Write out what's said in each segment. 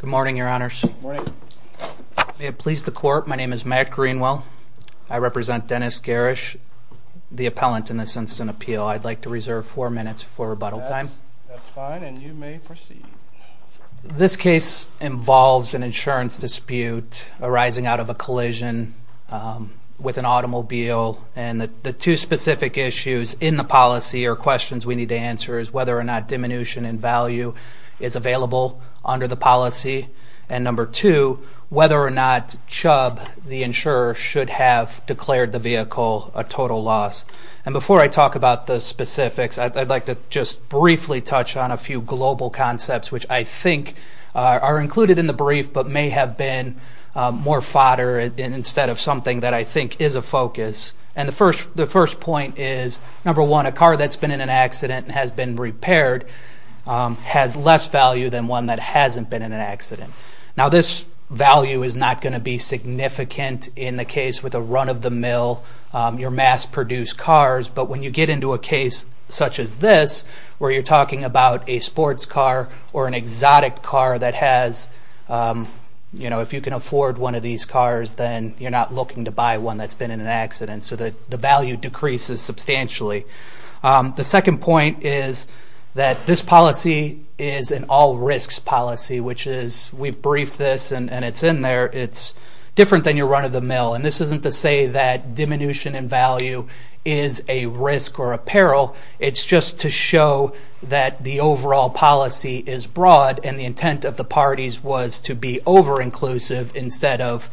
Good morning, your honors. May it please the court, my name is Matt Greenwell. I represent Dennis Gehrisch, the appellant in this instant appeal. I'd like to reserve four minutes for an insurance dispute arising out of a collision with an automobile. And the two specific issues in the policy or questions we need to answer is whether or not diminution in value is available under the policy. And number two, whether or not Chubb, the insurer, should have declared the vehicle a total loss. And before I talk about the specifics, I'd like to just briefly touch on a few global concepts which I think are included in the brief but may have been more fodder instead of something that I think is a focus. And the first point is, number one, a car that's been in an accident and has been repaired has less value than one that hasn't been in an accident. Now this value is not going to be significant in the case with a run of the mill, your mass produced cars. But when you get into a case such as this, where you're talking about a sports car or an exotic car that has, you know, if you can afford one of these cars, then you're not looking to buy one that's been in an accident. So the value decreases substantially. The second point is that this policy is an all risks policy, which is, we briefed this and it's in there, it's different than your run of the mill. And this isn't to say that diminution in value is a risk or a peril. It's just to show that the overall policy is broad and the intent of the parties was to be over inclusive instead of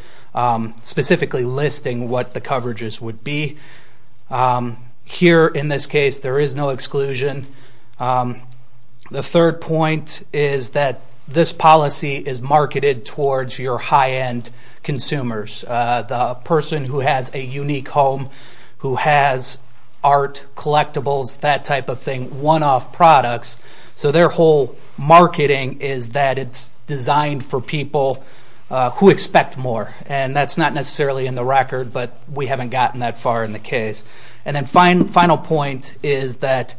specifically listing what the coverages would be. Here in this case, there is no exclusion. The third point is that this policy is marketed towards your high end consumers. The person who has a unique home, who has art collectibles that type of thing, one off products, so their whole marketing is that it's designed for people who expect more. And that's not necessarily in the record, but we haven't gotten that far in the case. And then final point is that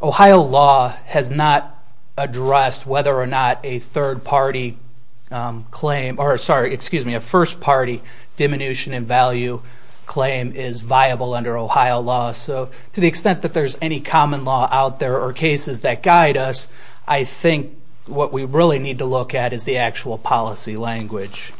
Ohio law has not addressed whether or not a third party claim, or sorry, excuse me, a first party diminution in value claim is viable under Ohio law. So to the extent that there's any common law out there, or cases that guide us, I think what we really need to look at is the actual policy language.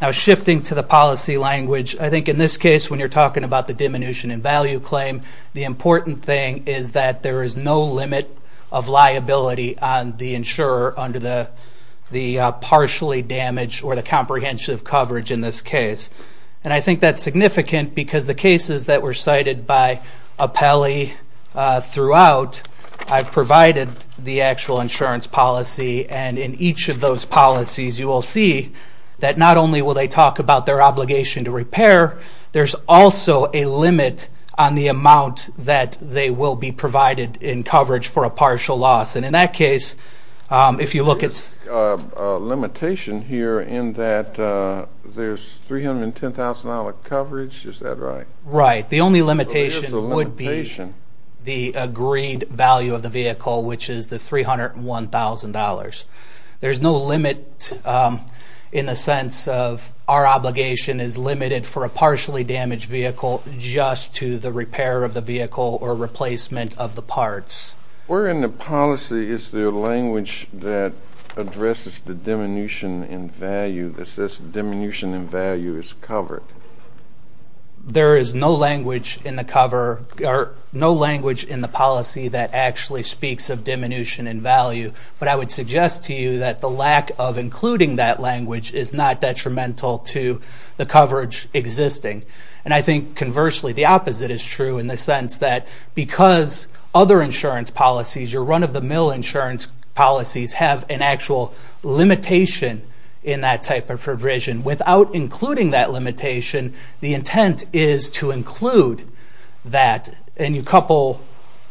Now shifting to the policy language, I think in this case when you're talking about the diminution in value claim, the important thing is that there is no limit of liability on the insurer under the partially damaged or partially repaired property in this case. And I think that's significant because the cases that were cited by Apelli throughout, I've provided the actual insurance policy and in each of those policies you will see that not only will they talk about their obligation to repair, there's also a limit on the amount that they will be provided in coverage for a partial loss. And in that case, if you look at... There's a limitation here in that there's $310,000 coverage, is that right? Right. The only limitation would be the agreed value of the vehicle, which is the $301,000. There's no limit in the sense of our obligation is limited for a partially damaged vehicle just to the repair of the vehicle or replacement of the parts. Where in the policy is there language that addresses the diminution in value that says diminution in value is covered? There is no language in the policy that actually speaks of diminution in value, but I would suggest to you that the lack of including that language is not detrimental to the coverage existing. And I think conversely, the opposite is true in the sense that because other insurance policies, your run-of-the-mill insurance policies have an actual limitation in that type of provision. Without including that limitation, the intent is to include that and you couple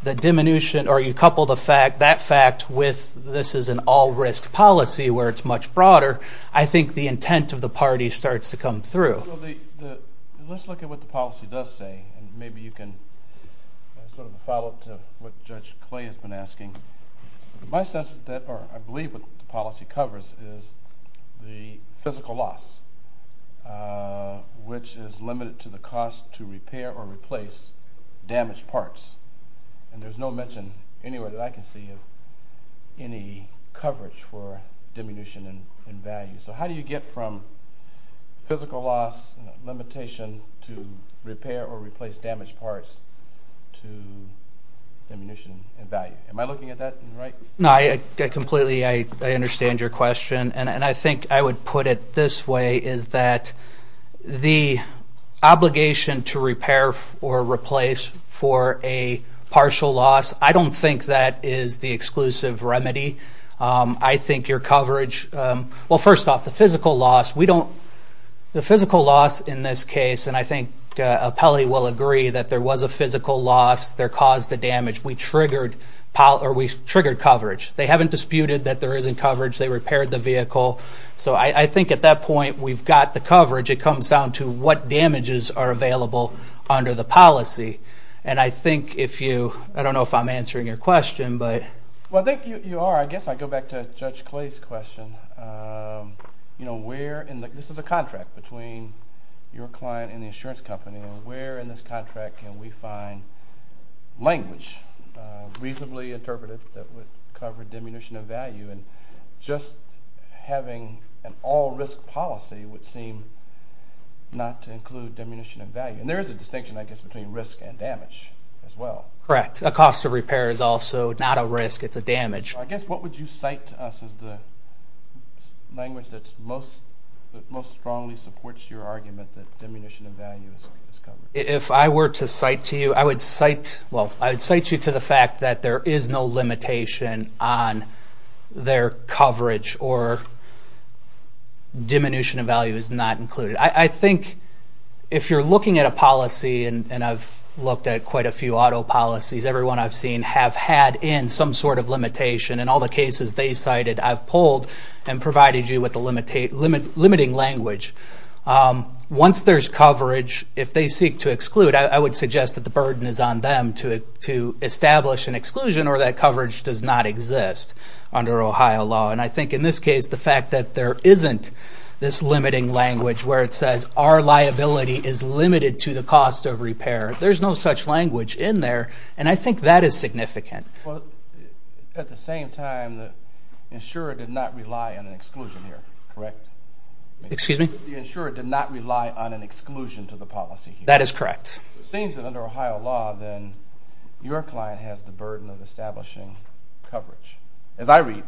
the diminution or you couple that fact with this is an all-risk policy where it's much broader, I think the intent of the party starts to come through. Let's look at what the policy does say and maybe you can sort of follow up to what Judge Clay has been asking. I believe what the policy covers is the physical loss, which is limited to the cost to repair or replace damaged parts. And there's no mention anywhere that I can see of any coverage for diminution in value. So how do you get from physical loss limitation to repair or replace damaged parts to diminution in value? Am I looking at that right? No, completely. I understand your question. And I think I would put it this way, is that the obligation to repair or replace for a partial loss, I don't think that is the exclusive remedy. I think your coverage, well, first off, the physical loss, we don't, the physical loss in this case, and I think Apelli will agree that there was a physical loss that caused the damage. We triggered coverage. They haven't disputed that there isn't coverage. They found to what damages are available under the policy. And I think if you, I don't know if I'm answering your question, but... Well, I think you are. I guess I go back to Judge Clay's question. You know, where in the, this is a contract between your client and the insurance company, and where in this contract can we find language reasonably interpreted that would cover diminution of value? And just having an all risk policy would seem not to include diminution of value. And there is a distinction, I guess, between risk and damage as well. Correct. A cost of repair is also not a risk, it's a damage. I guess, what would you cite to us as the language that most strongly supports your argument that diminution of value is covered? If I were to cite to you, I would cite, well, I would cite you to the fact that there is no limitation on their coverage or diminution of value is not included. I think if you're looking at a policy, and I've looked at quite a few auto policies, everyone I've seen have had in some sort of limitation. In all the cases they cited, I've pulled and provided you with the limiting language. Once there's coverage, if they seek to exclude, I would suggest that the burden is on them to establish an exclusion or that coverage does not exist under Ohio law. And I think in this case, the fact that there isn't this limiting language where it says our liability is limited to the cost of repair, there's no such language in there. And I think that is significant. Well, at the same time, the insurer did not rely on an exclusion here, correct? Excuse me? The insurer did not rely on an exclusion to the policy here. That is correct. It seems that under Ohio law, then, your client has the burden of establishing coverage. As you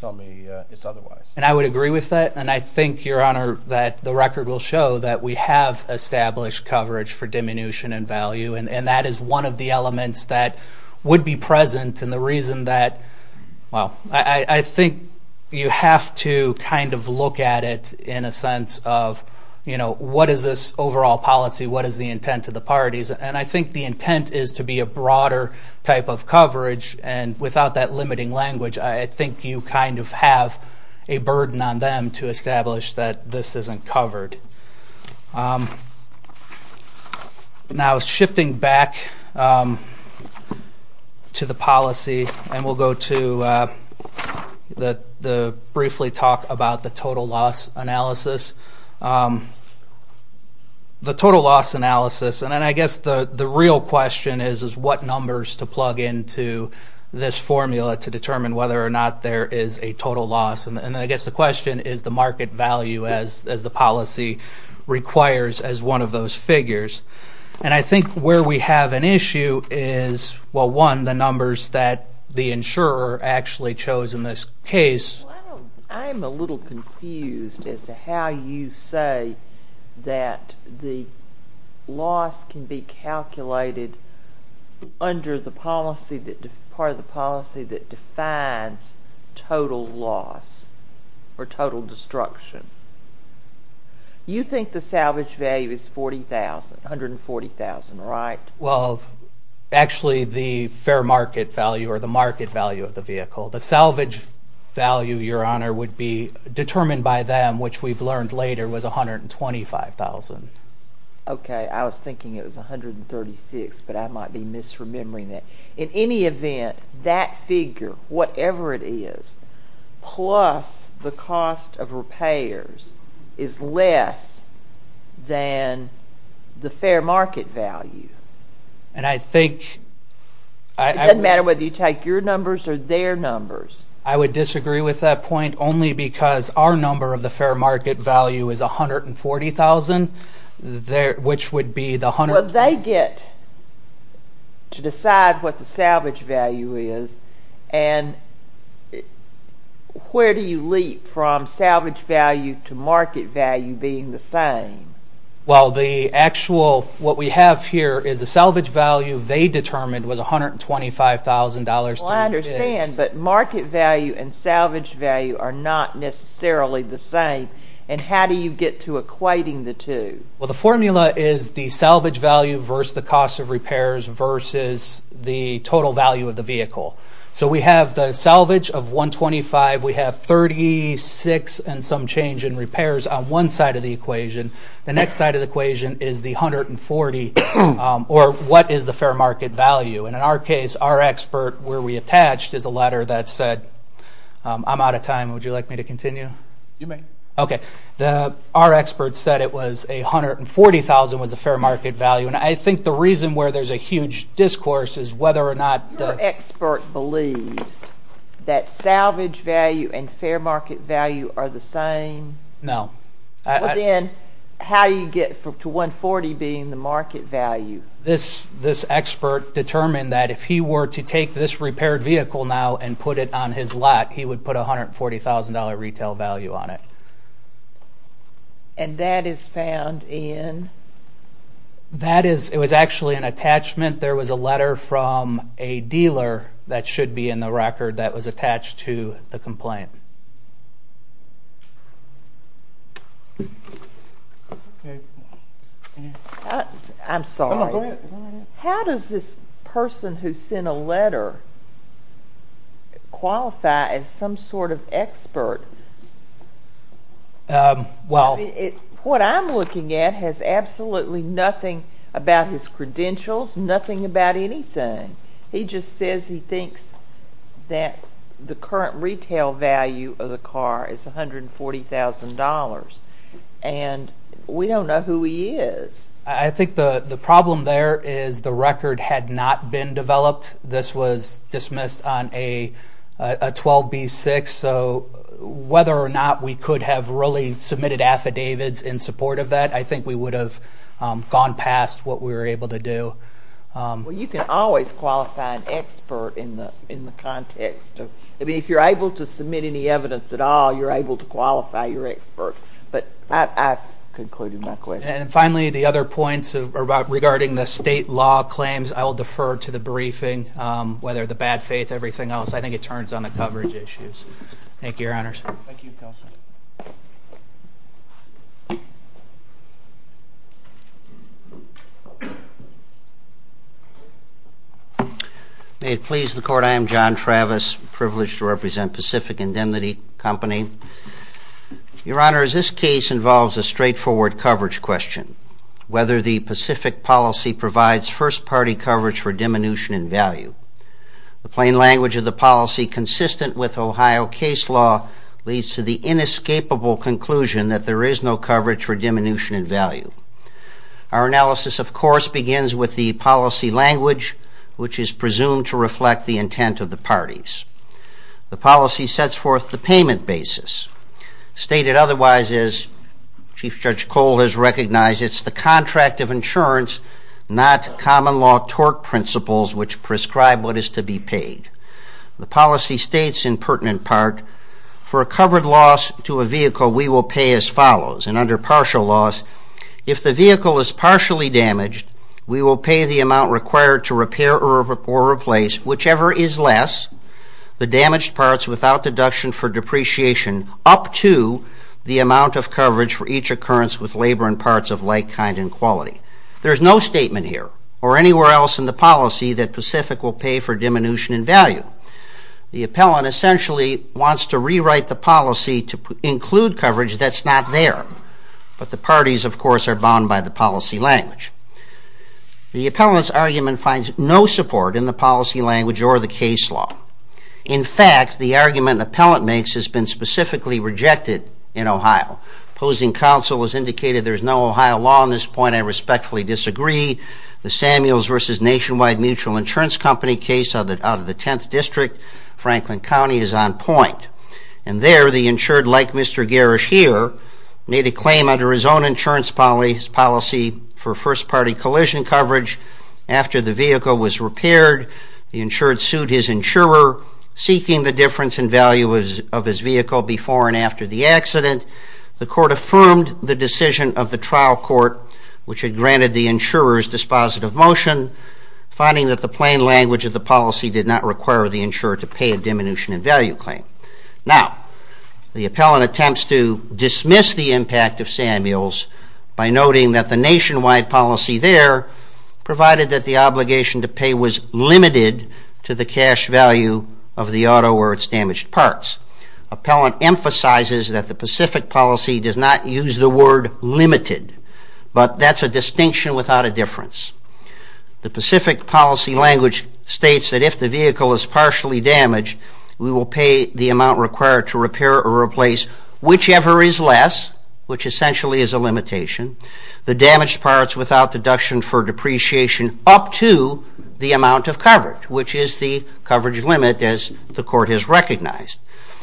tell me, it's otherwise. And I would agree with that. And I think, Your Honor, that the record will show that we have established coverage for diminution in value. And that is one of the elements that would be present. And the reason that, well, I think you have to kind of look at it in a sense of, you know, what is this overall policy? What is the intent of the parties? And I think the intent is to be a broader type of coverage. And without that limiting language, I think you kind of have a burden on them to establish that this isn't covered. Now, shifting back to the policy, and we'll go to the briefly talk about the total loss analysis. The total loss analysis, and I guess the real question is, is what numbers to plug into this formula to determine whether or not there is a total loss? And I guess the question is the market value as the policy requires as one of those figures. And I think where we have an issue is, well, one, the numbers that the insurer actually chose in this case. Well, I'm a little confused as to how you say that the loss can be calculated under the policy that defines total loss or total destruction. You think the salvage value is $40,000, $140,000, right? Well, actually the fair market value or the market value of the vehicle. The salvage value, Your Honor, would be determined by them, which we've learned later was $125,000. Okay. I was thinking it was $136,000, but I might be misremembering that. In any event, that figure, whatever it is, plus the cost of repairs is less than the fair market value. And I think It doesn't matter whether you take your numbers or their numbers. I would disagree with that point only because our number of the fair market value is $140,000 which would be the $120,000. Well, they get to decide what the salvage value is. And where do you leap from salvage value to market value being the same? Well, the actual, what we have here is the salvage value they determined was $125,000 Well, I understand, but market value and salvage value are not necessarily the same. And how do you get to equating the two? Well, the formula is the salvage value versus the cost of repairs versus the total value of the vehicle. So we have the salvage of $125,000. We have $36,000 and some change in repairs on one side of the equation. The next side of the equation is the $140,000 or what is the fair market value. And in our case, our expert where we attached is a letter that said, I'm out of time. Would you like me to continue? You may. Okay. Our expert said it was $140,000 was a fair market value. And I think the reason where there's a huge discourse is whether or not Your expert believes that salvage value and fair market value are the same? No. Well, then how do you get to $140,000 being the market value? This expert determined that if he were to take this repaired vehicle now and put it on his lot, he would put $140,000 retail value on it. And that is found in? That is, it was actually an attachment. There was a letter from a dealer that should be in the record that was attached to the complaint. Okay. I'm sorry. Go ahead. How does this person who sent a letter qualify as some sort of expert? Well What I'm looking at has absolutely nothing about his credentials, nothing about anything. He just says he thinks that the current retail value of the car is $140,000. And we don't know who he is. I think the problem there is the record had not been developed. This was dismissed on a 12B6. So whether or not we could have really submitted affidavits in support of that, I think we would have gone past what we were able to do. Well, you can always qualify an expert in the context. I mean, if you're able to submit any evidence at all, you're able to qualify your expert. But I've concluded my question. And finally, the other points regarding the state law claims, I will defer to the briefing. Whether the bad faith, everything else, I think it turns on the coverage issues. Thank you, Your Honors. Thank you, Counselor. May it please the Court. I am John Travis, privileged to represent Pacific Indemnity Company. Your Honors, this case involves a straightforward coverage question. Whether the Pacific policy provides first party coverage for diminution in value. The plain language of the policy consistent with Ohio case law leads to the inescapable conclusion that there is no coverage for diminution in value. Our analysis, of course, begins with the policy language, which is presumed to reflect the intent of the parties. The policy sets forth the payment basis. Stated otherwise, as Chief Judge Cole has recognized, it's the contract of insurance, not common law tort principles, which prescribe what is to be paid. The policy states, in pertinent part, for a covered loss to a vehicle, we will pay as follows. And under partial loss, if the vehicle is partially damaged, we will pay the amount required to repair or replace, whichever is less, the damaged parts without deduction for depreciation, up to the amount of coverage for each occurrence with labor and parts of like kind and quality. There is no statement here, or anywhere else in the policy, that Pacific will pay for diminution in value. The appellant essentially wants to rewrite the policy to include coverage that's not there. But the parties, of course, are bound by the policy language. The appellant's argument finds no support in the policy language or the case law. In fact, the argument the appellant makes has been specifically rejected in Ohio. Opposing counsel has indicated there is no Ohio law on this point. I respectfully disagree. The Samuels v. Nationwide Mutual Insurance Company case out of the 10th District, Franklin County, is on point. And there, the insured, like Mr. Garrish here, made a claim under his own insurance policy for first-party collision coverage. After the vehicle was repaired, the insured sued his insurer, seeking the difference in value of his vehicle before and after the accident. The court affirmed the decision of the trial court, which had granted the insurer's dispositive motion, finding that the plain language of the policy did not require the insurer to pay a diminution in value claim. Now, the appellant attempts to dismiss the impact of Samuels by noting that the nationwide policy there provided that the obligation to pay was limited to the cash value of the auto or its damaged parts. Appellant emphasizes that the Pacific policy does not use the word limited, but that's a distinction without a difference. The Pacific policy language states that if the vehicle is partially damaged, we will pay the amount required to repair or replace whichever is less, which essentially is a limitation, the damaged parts without deduction for depreciation up to the amount of coverage, which is the coverage limit, as the court has recognized.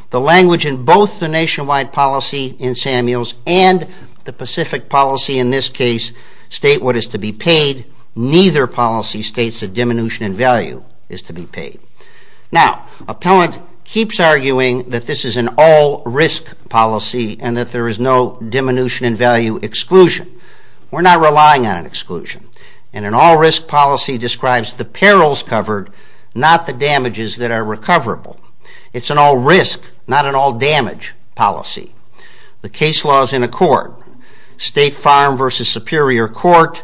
The language in both the nationwide policy in Samuels and the Pacific policy in this case state what is to be paid. Neither policy states that diminution in value is to be paid. Now, appellant keeps arguing that this is an all-risk policy and that there is no diminution in value exclusion. We're not relying on an exclusion. And an all-risk policy describes the perils covered, not the damages that are recoverable. It's an all-risk, not an all-damage policy. The case law is in accord. State Farm v. Superior Court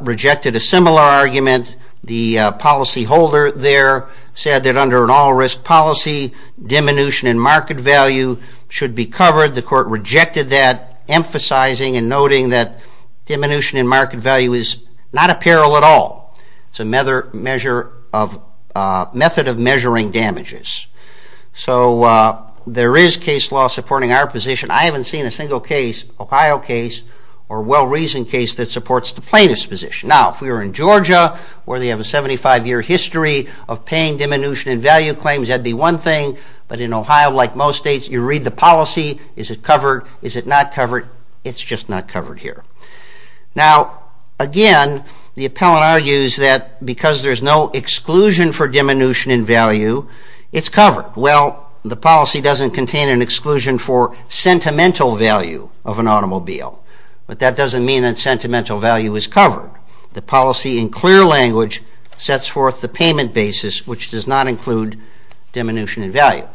rejected a similar argument. The policyholder there said that under an all-risk policy, diminution in market value should be covered. The court rejected that, emphasizing and noting that diminution in market value is not a peril at all. It's a method of measuring damages. So there is case law supporting our position. I haven't seen a single Ohio case or well-reasoned case that supports the plaintiff's position. Now, if we were in Georgia, where they have a 75-year history of paying diminution in value claims, that would be one thing. But in Ohio, like most states, you read the policy. Is it covered? Is it not covered? It's just not covered here. Now, again, the appellant argues that because there's no exclusion for diminution in value, it's covered. Well, the policy doesn't contain an exclusion for sentimental value of an automobile. But that doesn't mean that sentimental value is covered. The policy, in clear language, sets forth the payment basis, which does not include diminution in value.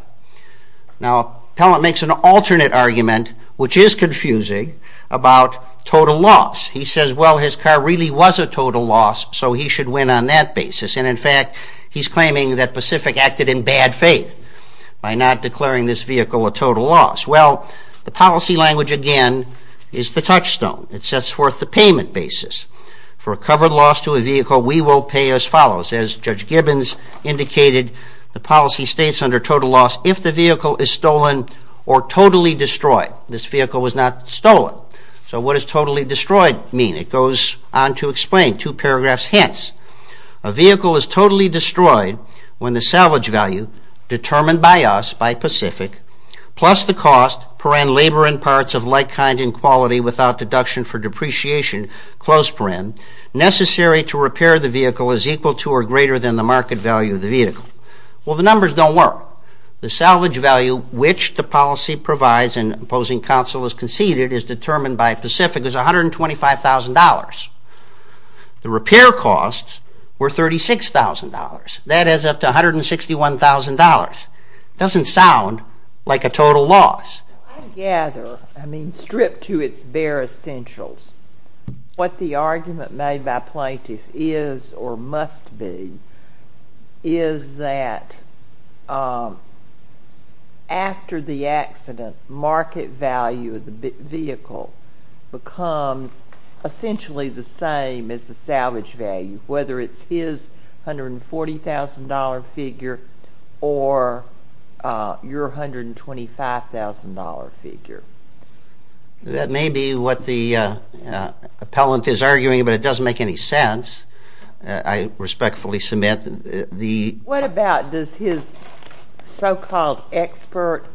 Now, the appellant makes an alternate argument, which is confusing, about total loss. He says, well, his car really was a total loss, so he should win on that basis. And, in fact, he's claiming that Pacific acted in bad faith by not declaring this vehicle a total loss. Well, the policy language, again, is the touchstone. It sets forth the payment basis. For a covered loss to a vehicle, we will pay as follows. As Judge Gibbons indicated, the policy states under total loss, if the vehicle is stolen or totally destroyed. This vehicle was not stolen. So what does totally destroyed mean? It goes on to explain, two paragraphs hence. A vehicle is totally destroyed when the salvage value, determined by us, by Pacific, plus the cost, per ann labor and parts of like kind and quality without deduction for depreciation, close per ann, necessary to repair the vehicle is equal to or greater than the market value of the vehicle. Well, the numbers don't work. The salvage value which the policy provides, and opposing counsel has conceded, is determined by Pacific as $125,000. The repair costs were $36,000. That adds up to $161,000. It doesn't sound like a total loss. I gather, I mean stripped to its bare essentials, what the argument made by plaintiffs is or must be is that after the accident, market value of the vehicle becomes essentially the same as the salvage value, whether it's his $140,000 figure or your $125,000 figure. That may be what the appellant is arguing, but it doesn't make any sense. I respectfully submit the... What about does his so-called expert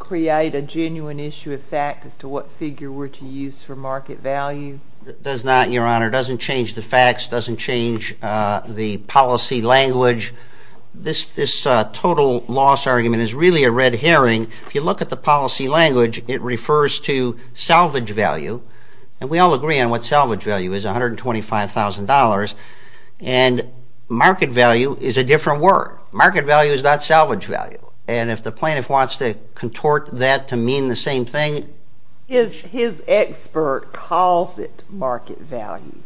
create a genuine issue of fact as to what figure were to use for market value? It does not, Your Honor. It doesn't change the facts. It doesn't change the policy language. This total loss argument is really a red herring. If you look at the policy language, it refers to salvage value, and we all agree on what salvage value is, $125,000, and market value is a different word. Market value is not salvage value, and if the plaintiff wants to contort that to mean the same thing... His expert calls it market value.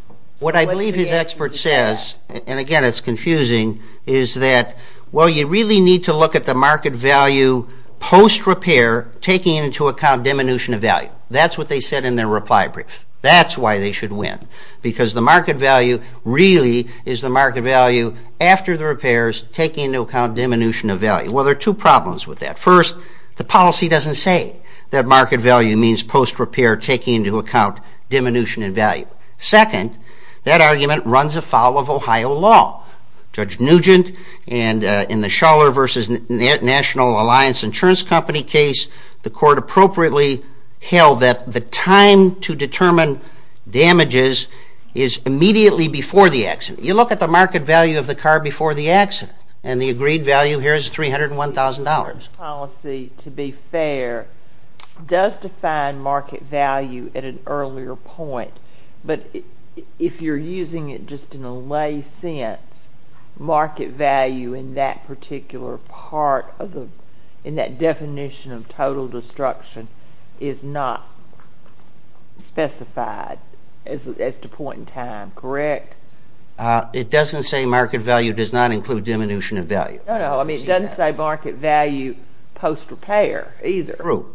What I believe his expert says, and again it's confusing, is that, well, you really need to look at the market value post-repair taking into account diminution of value. That's what they said in their reply brief. That's why they should win, because the market value really is the market value after the repairs taking into account diminution of value. Well, there are two problems with that. First, the policy doesn't say that market value means post-repair taking into account diminution in value. Second, that argument runs afoul of Ohio law. Judge Nugent in the Schuller v. National Alliance Insurance Company case, the court appropriately held that the time to determine damages is immediately before the accident. You look at the market value of the car before the accident, and the agreed value here is $301,000. The policy, to be fair, does define market value at an earlier point, but if you're using it just in a lay sense, market value in that particular part, in that definition of total destruction, is not specified as the point in time, correct? It doesn't say market value does not include diminution of value. No, no, I mean, it doesn't say market value post-repair either. True.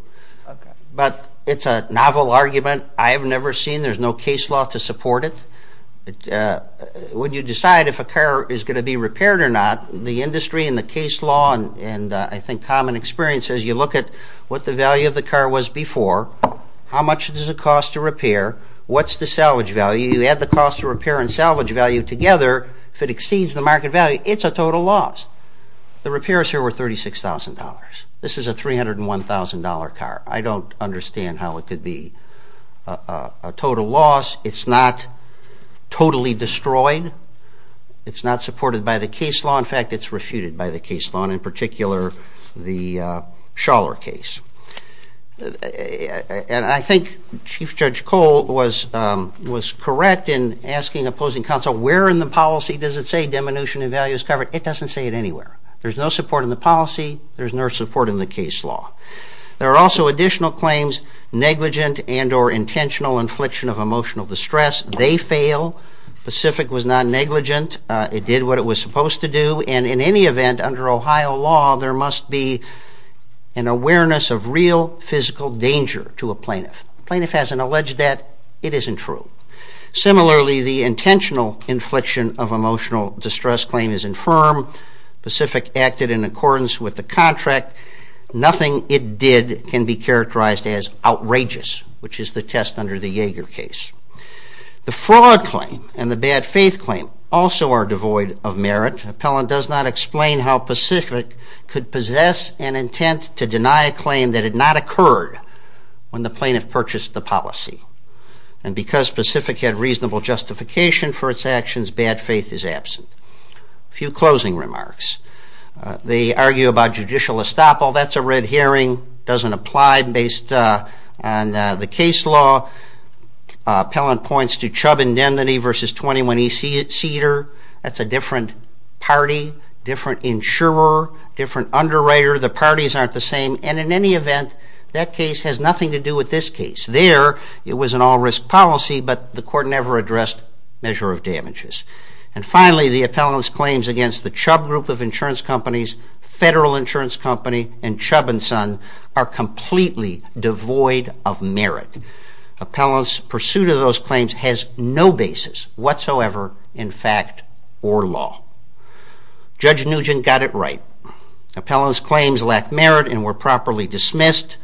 Okay. But it's a novel argument. I have never seen. There's no case law to support it. When you decide if a car is going to be repaired or not, the industry and the case law and, I think, common experience, as you look at what the value of the car was before, how much does it cost to repair, what's the salvage value, you add the cost of repair and salvage value together, if it exceeds the market value, it's a total loss. The repairs here were $36,000. This is a $301,000 car. I don't understand how it could be a total loss. It's not totally destroyed. It's not supported by the case law. In fact, it's refuted by the case law, and in particular the Schaller case. And I think Chief Judge Cole was correct in asking opposing counsel, where in the policy does it say diminution of value is covered? It doesn't say it anywhere. There's no support in the policy. There's no support in the case law. There are also additional claims, negligent and or intentional infliction of emotional distress. They fail. Pacific was not negligent. It did what it was supposed to do. And in any event, under Ohio law, there must be an awareness of real physical danger to a plaintiff. The plaintiff hasn't alleged that. It isn't true. Similarly, the intentional infliction of emotional distress claim is infirm. Pacific acted in accordance with the contract. Nothing it did can be characterized as outrageous, which is the test under the Yeager case. The fraud claim and the bad faith claim also are devoid of merit. Appellant does not explain how Pacific could possess an intent to deny a claim that had not occurred when the plaintiff purchased the policy. And because Pacific had reasonable justification for its actions, bad faith is absent. A few closing remarks. They argue about judicial estoppel. That's a red herring. It doesn't apply based on the case law. Appellant points to Chubb indemnity versus 21E Cedar. That's a different party, different insurer, different underwriter. The parties aren't the same. And in any event, that case has nothing to do with this case. There, it was an all-risk policy, but the court never addressed measure of damages. And finally, the appellant's claims against the Chubb Group of Insurance Companies, Federal Insurance Company, and Chubb & Son are completely devoid of merit. Appellant's pursuit of those claims has no basis whatsoever in fact or law. Judge Nugent got it right. Appellant's claims lack merit and were properly dismissed.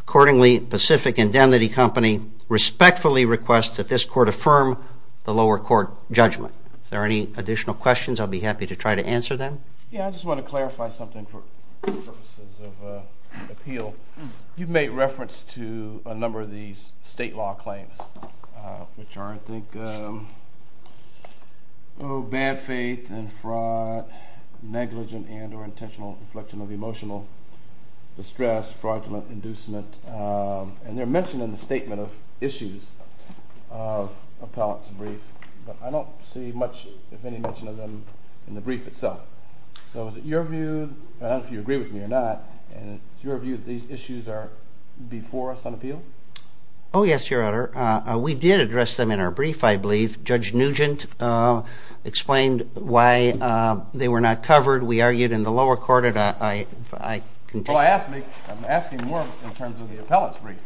Accordingly, Pacific Indemnity Company respectfully requests that this court affirm the lower court judgment. If there are any additional questions, I'll be happy to try to answer them. Yeah, I just want to clarify something for purposes of appeal. You've made reference to a number of these state law claims, which are, I think, bad faith and fraud, negligent and or intentional inflection of emotional distress, fraudulent inducement, and they're mentioned in the statement of issues of appellant's brief, but I don't see much, if any, mention of them in the brief itself. So is it your view, and I don't know if you agree with me or not, and it's your view that these issues are before us on appeal? Oh, yes, Your Honor. We did address them in our brief, I believe. Judge Nugent explained why they were not covered. We argued in the lower court. Well, I'm asking more in terms of the appellant's brief.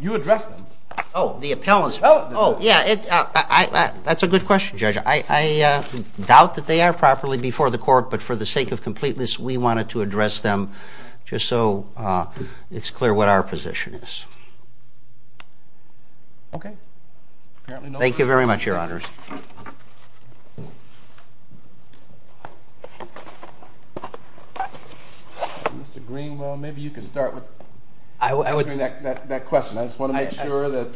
You addressed them. Oh, the appellant's brief. Oh, yeah, that's a good question, Judge. I doubt that they are properly before the court, but for the sake of completeness, we wanted to address them just so it's clear what our position is. Okay. Thank you very much, Your Honors. Mr. Greenwell, maybe you could start with answering that question. I just want to make sure that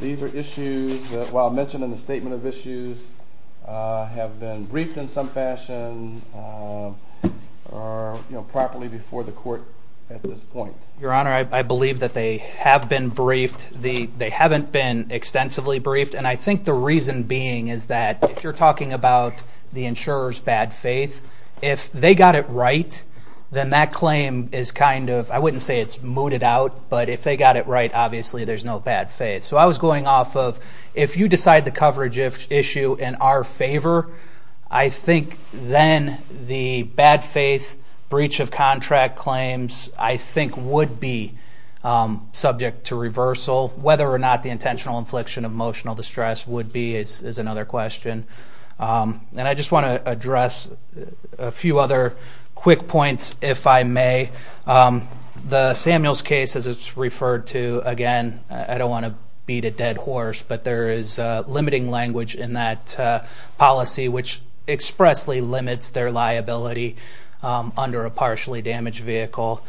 these are issues that, while mentioned in the statement of issues, have been briefed in some fashion or properly before the court at this point. Your Honor, I believe that they have been briefed. They haven't been extensively briefed, and I think the reason being is that if you're talking about the insurer's bad faith, if they got it right, then that claim is kind of, I wouldn't say it's mooted out, but if they got it right, obviously there's no bad faith. So I was going off of, if you decide the coverage issue in our favor, I think then the bad faith breach of contract claims, I think, would be subject to reversal. Whether or not the intentional infliction of emotional distress would be is another question. And I just want to address a few other quick points, if I may. The Samuels case, as it's referred to, again, I don't want to beat a dead horse, but there is limiting language in that policy, which expressly limits their liability under a partially damaged vehicle.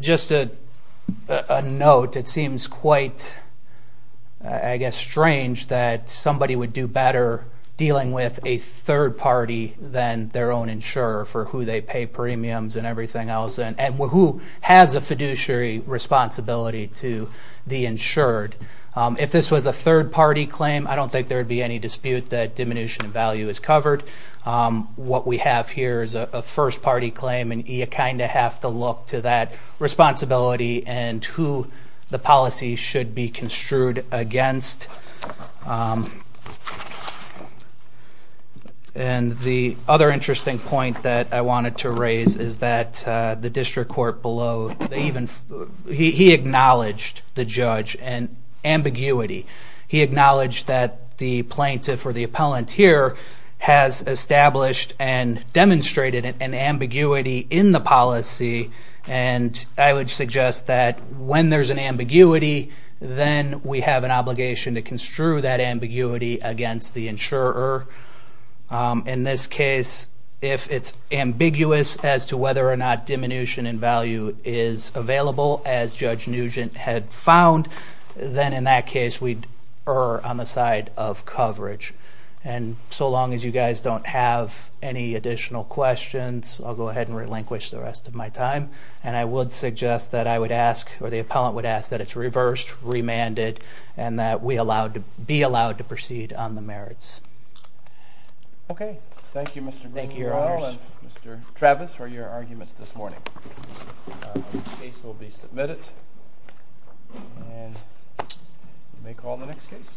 Just a note, it seems quite, I guess, strange that somebody would do better dealing with a third party than their own insurer for who they pay premiums and everything else and who has a fiduciary responsibility to the insured. If this was a third party claim, I don't think there would be any dispute that diminution of value is covered. What we have here is a first party claim, and you kind of have to look to that responsibility and who the policy should be construed against. And the other interesting point that I wanted to raise is that the district court below, he acknowledged the judge and ambiguity. He acknowledged that the plaintiff or the appellant here has established and demonstrated an ambiguity in the policy, and I would suggest that when there's an ambiguity, then we have an obligation to construe that ambiguity against the insurer. In this case, if it's ambiguous as to whether or not diminution in value is available, as Judge Nugent had found, then in that case we are on the side of coverage. And so long as you guys don't have any additional questions, I'll go ahead and relinquish the rest of my time. And I would suggest that I would ask, or the appellant would ask, that it's reversed, remanded, and that we be allowed to proceed on the merits. Okay. Thank you, Mr. Greenwell and Mr. Travis, for your arguments this morning. This case will be submitted, and we may call on the next case.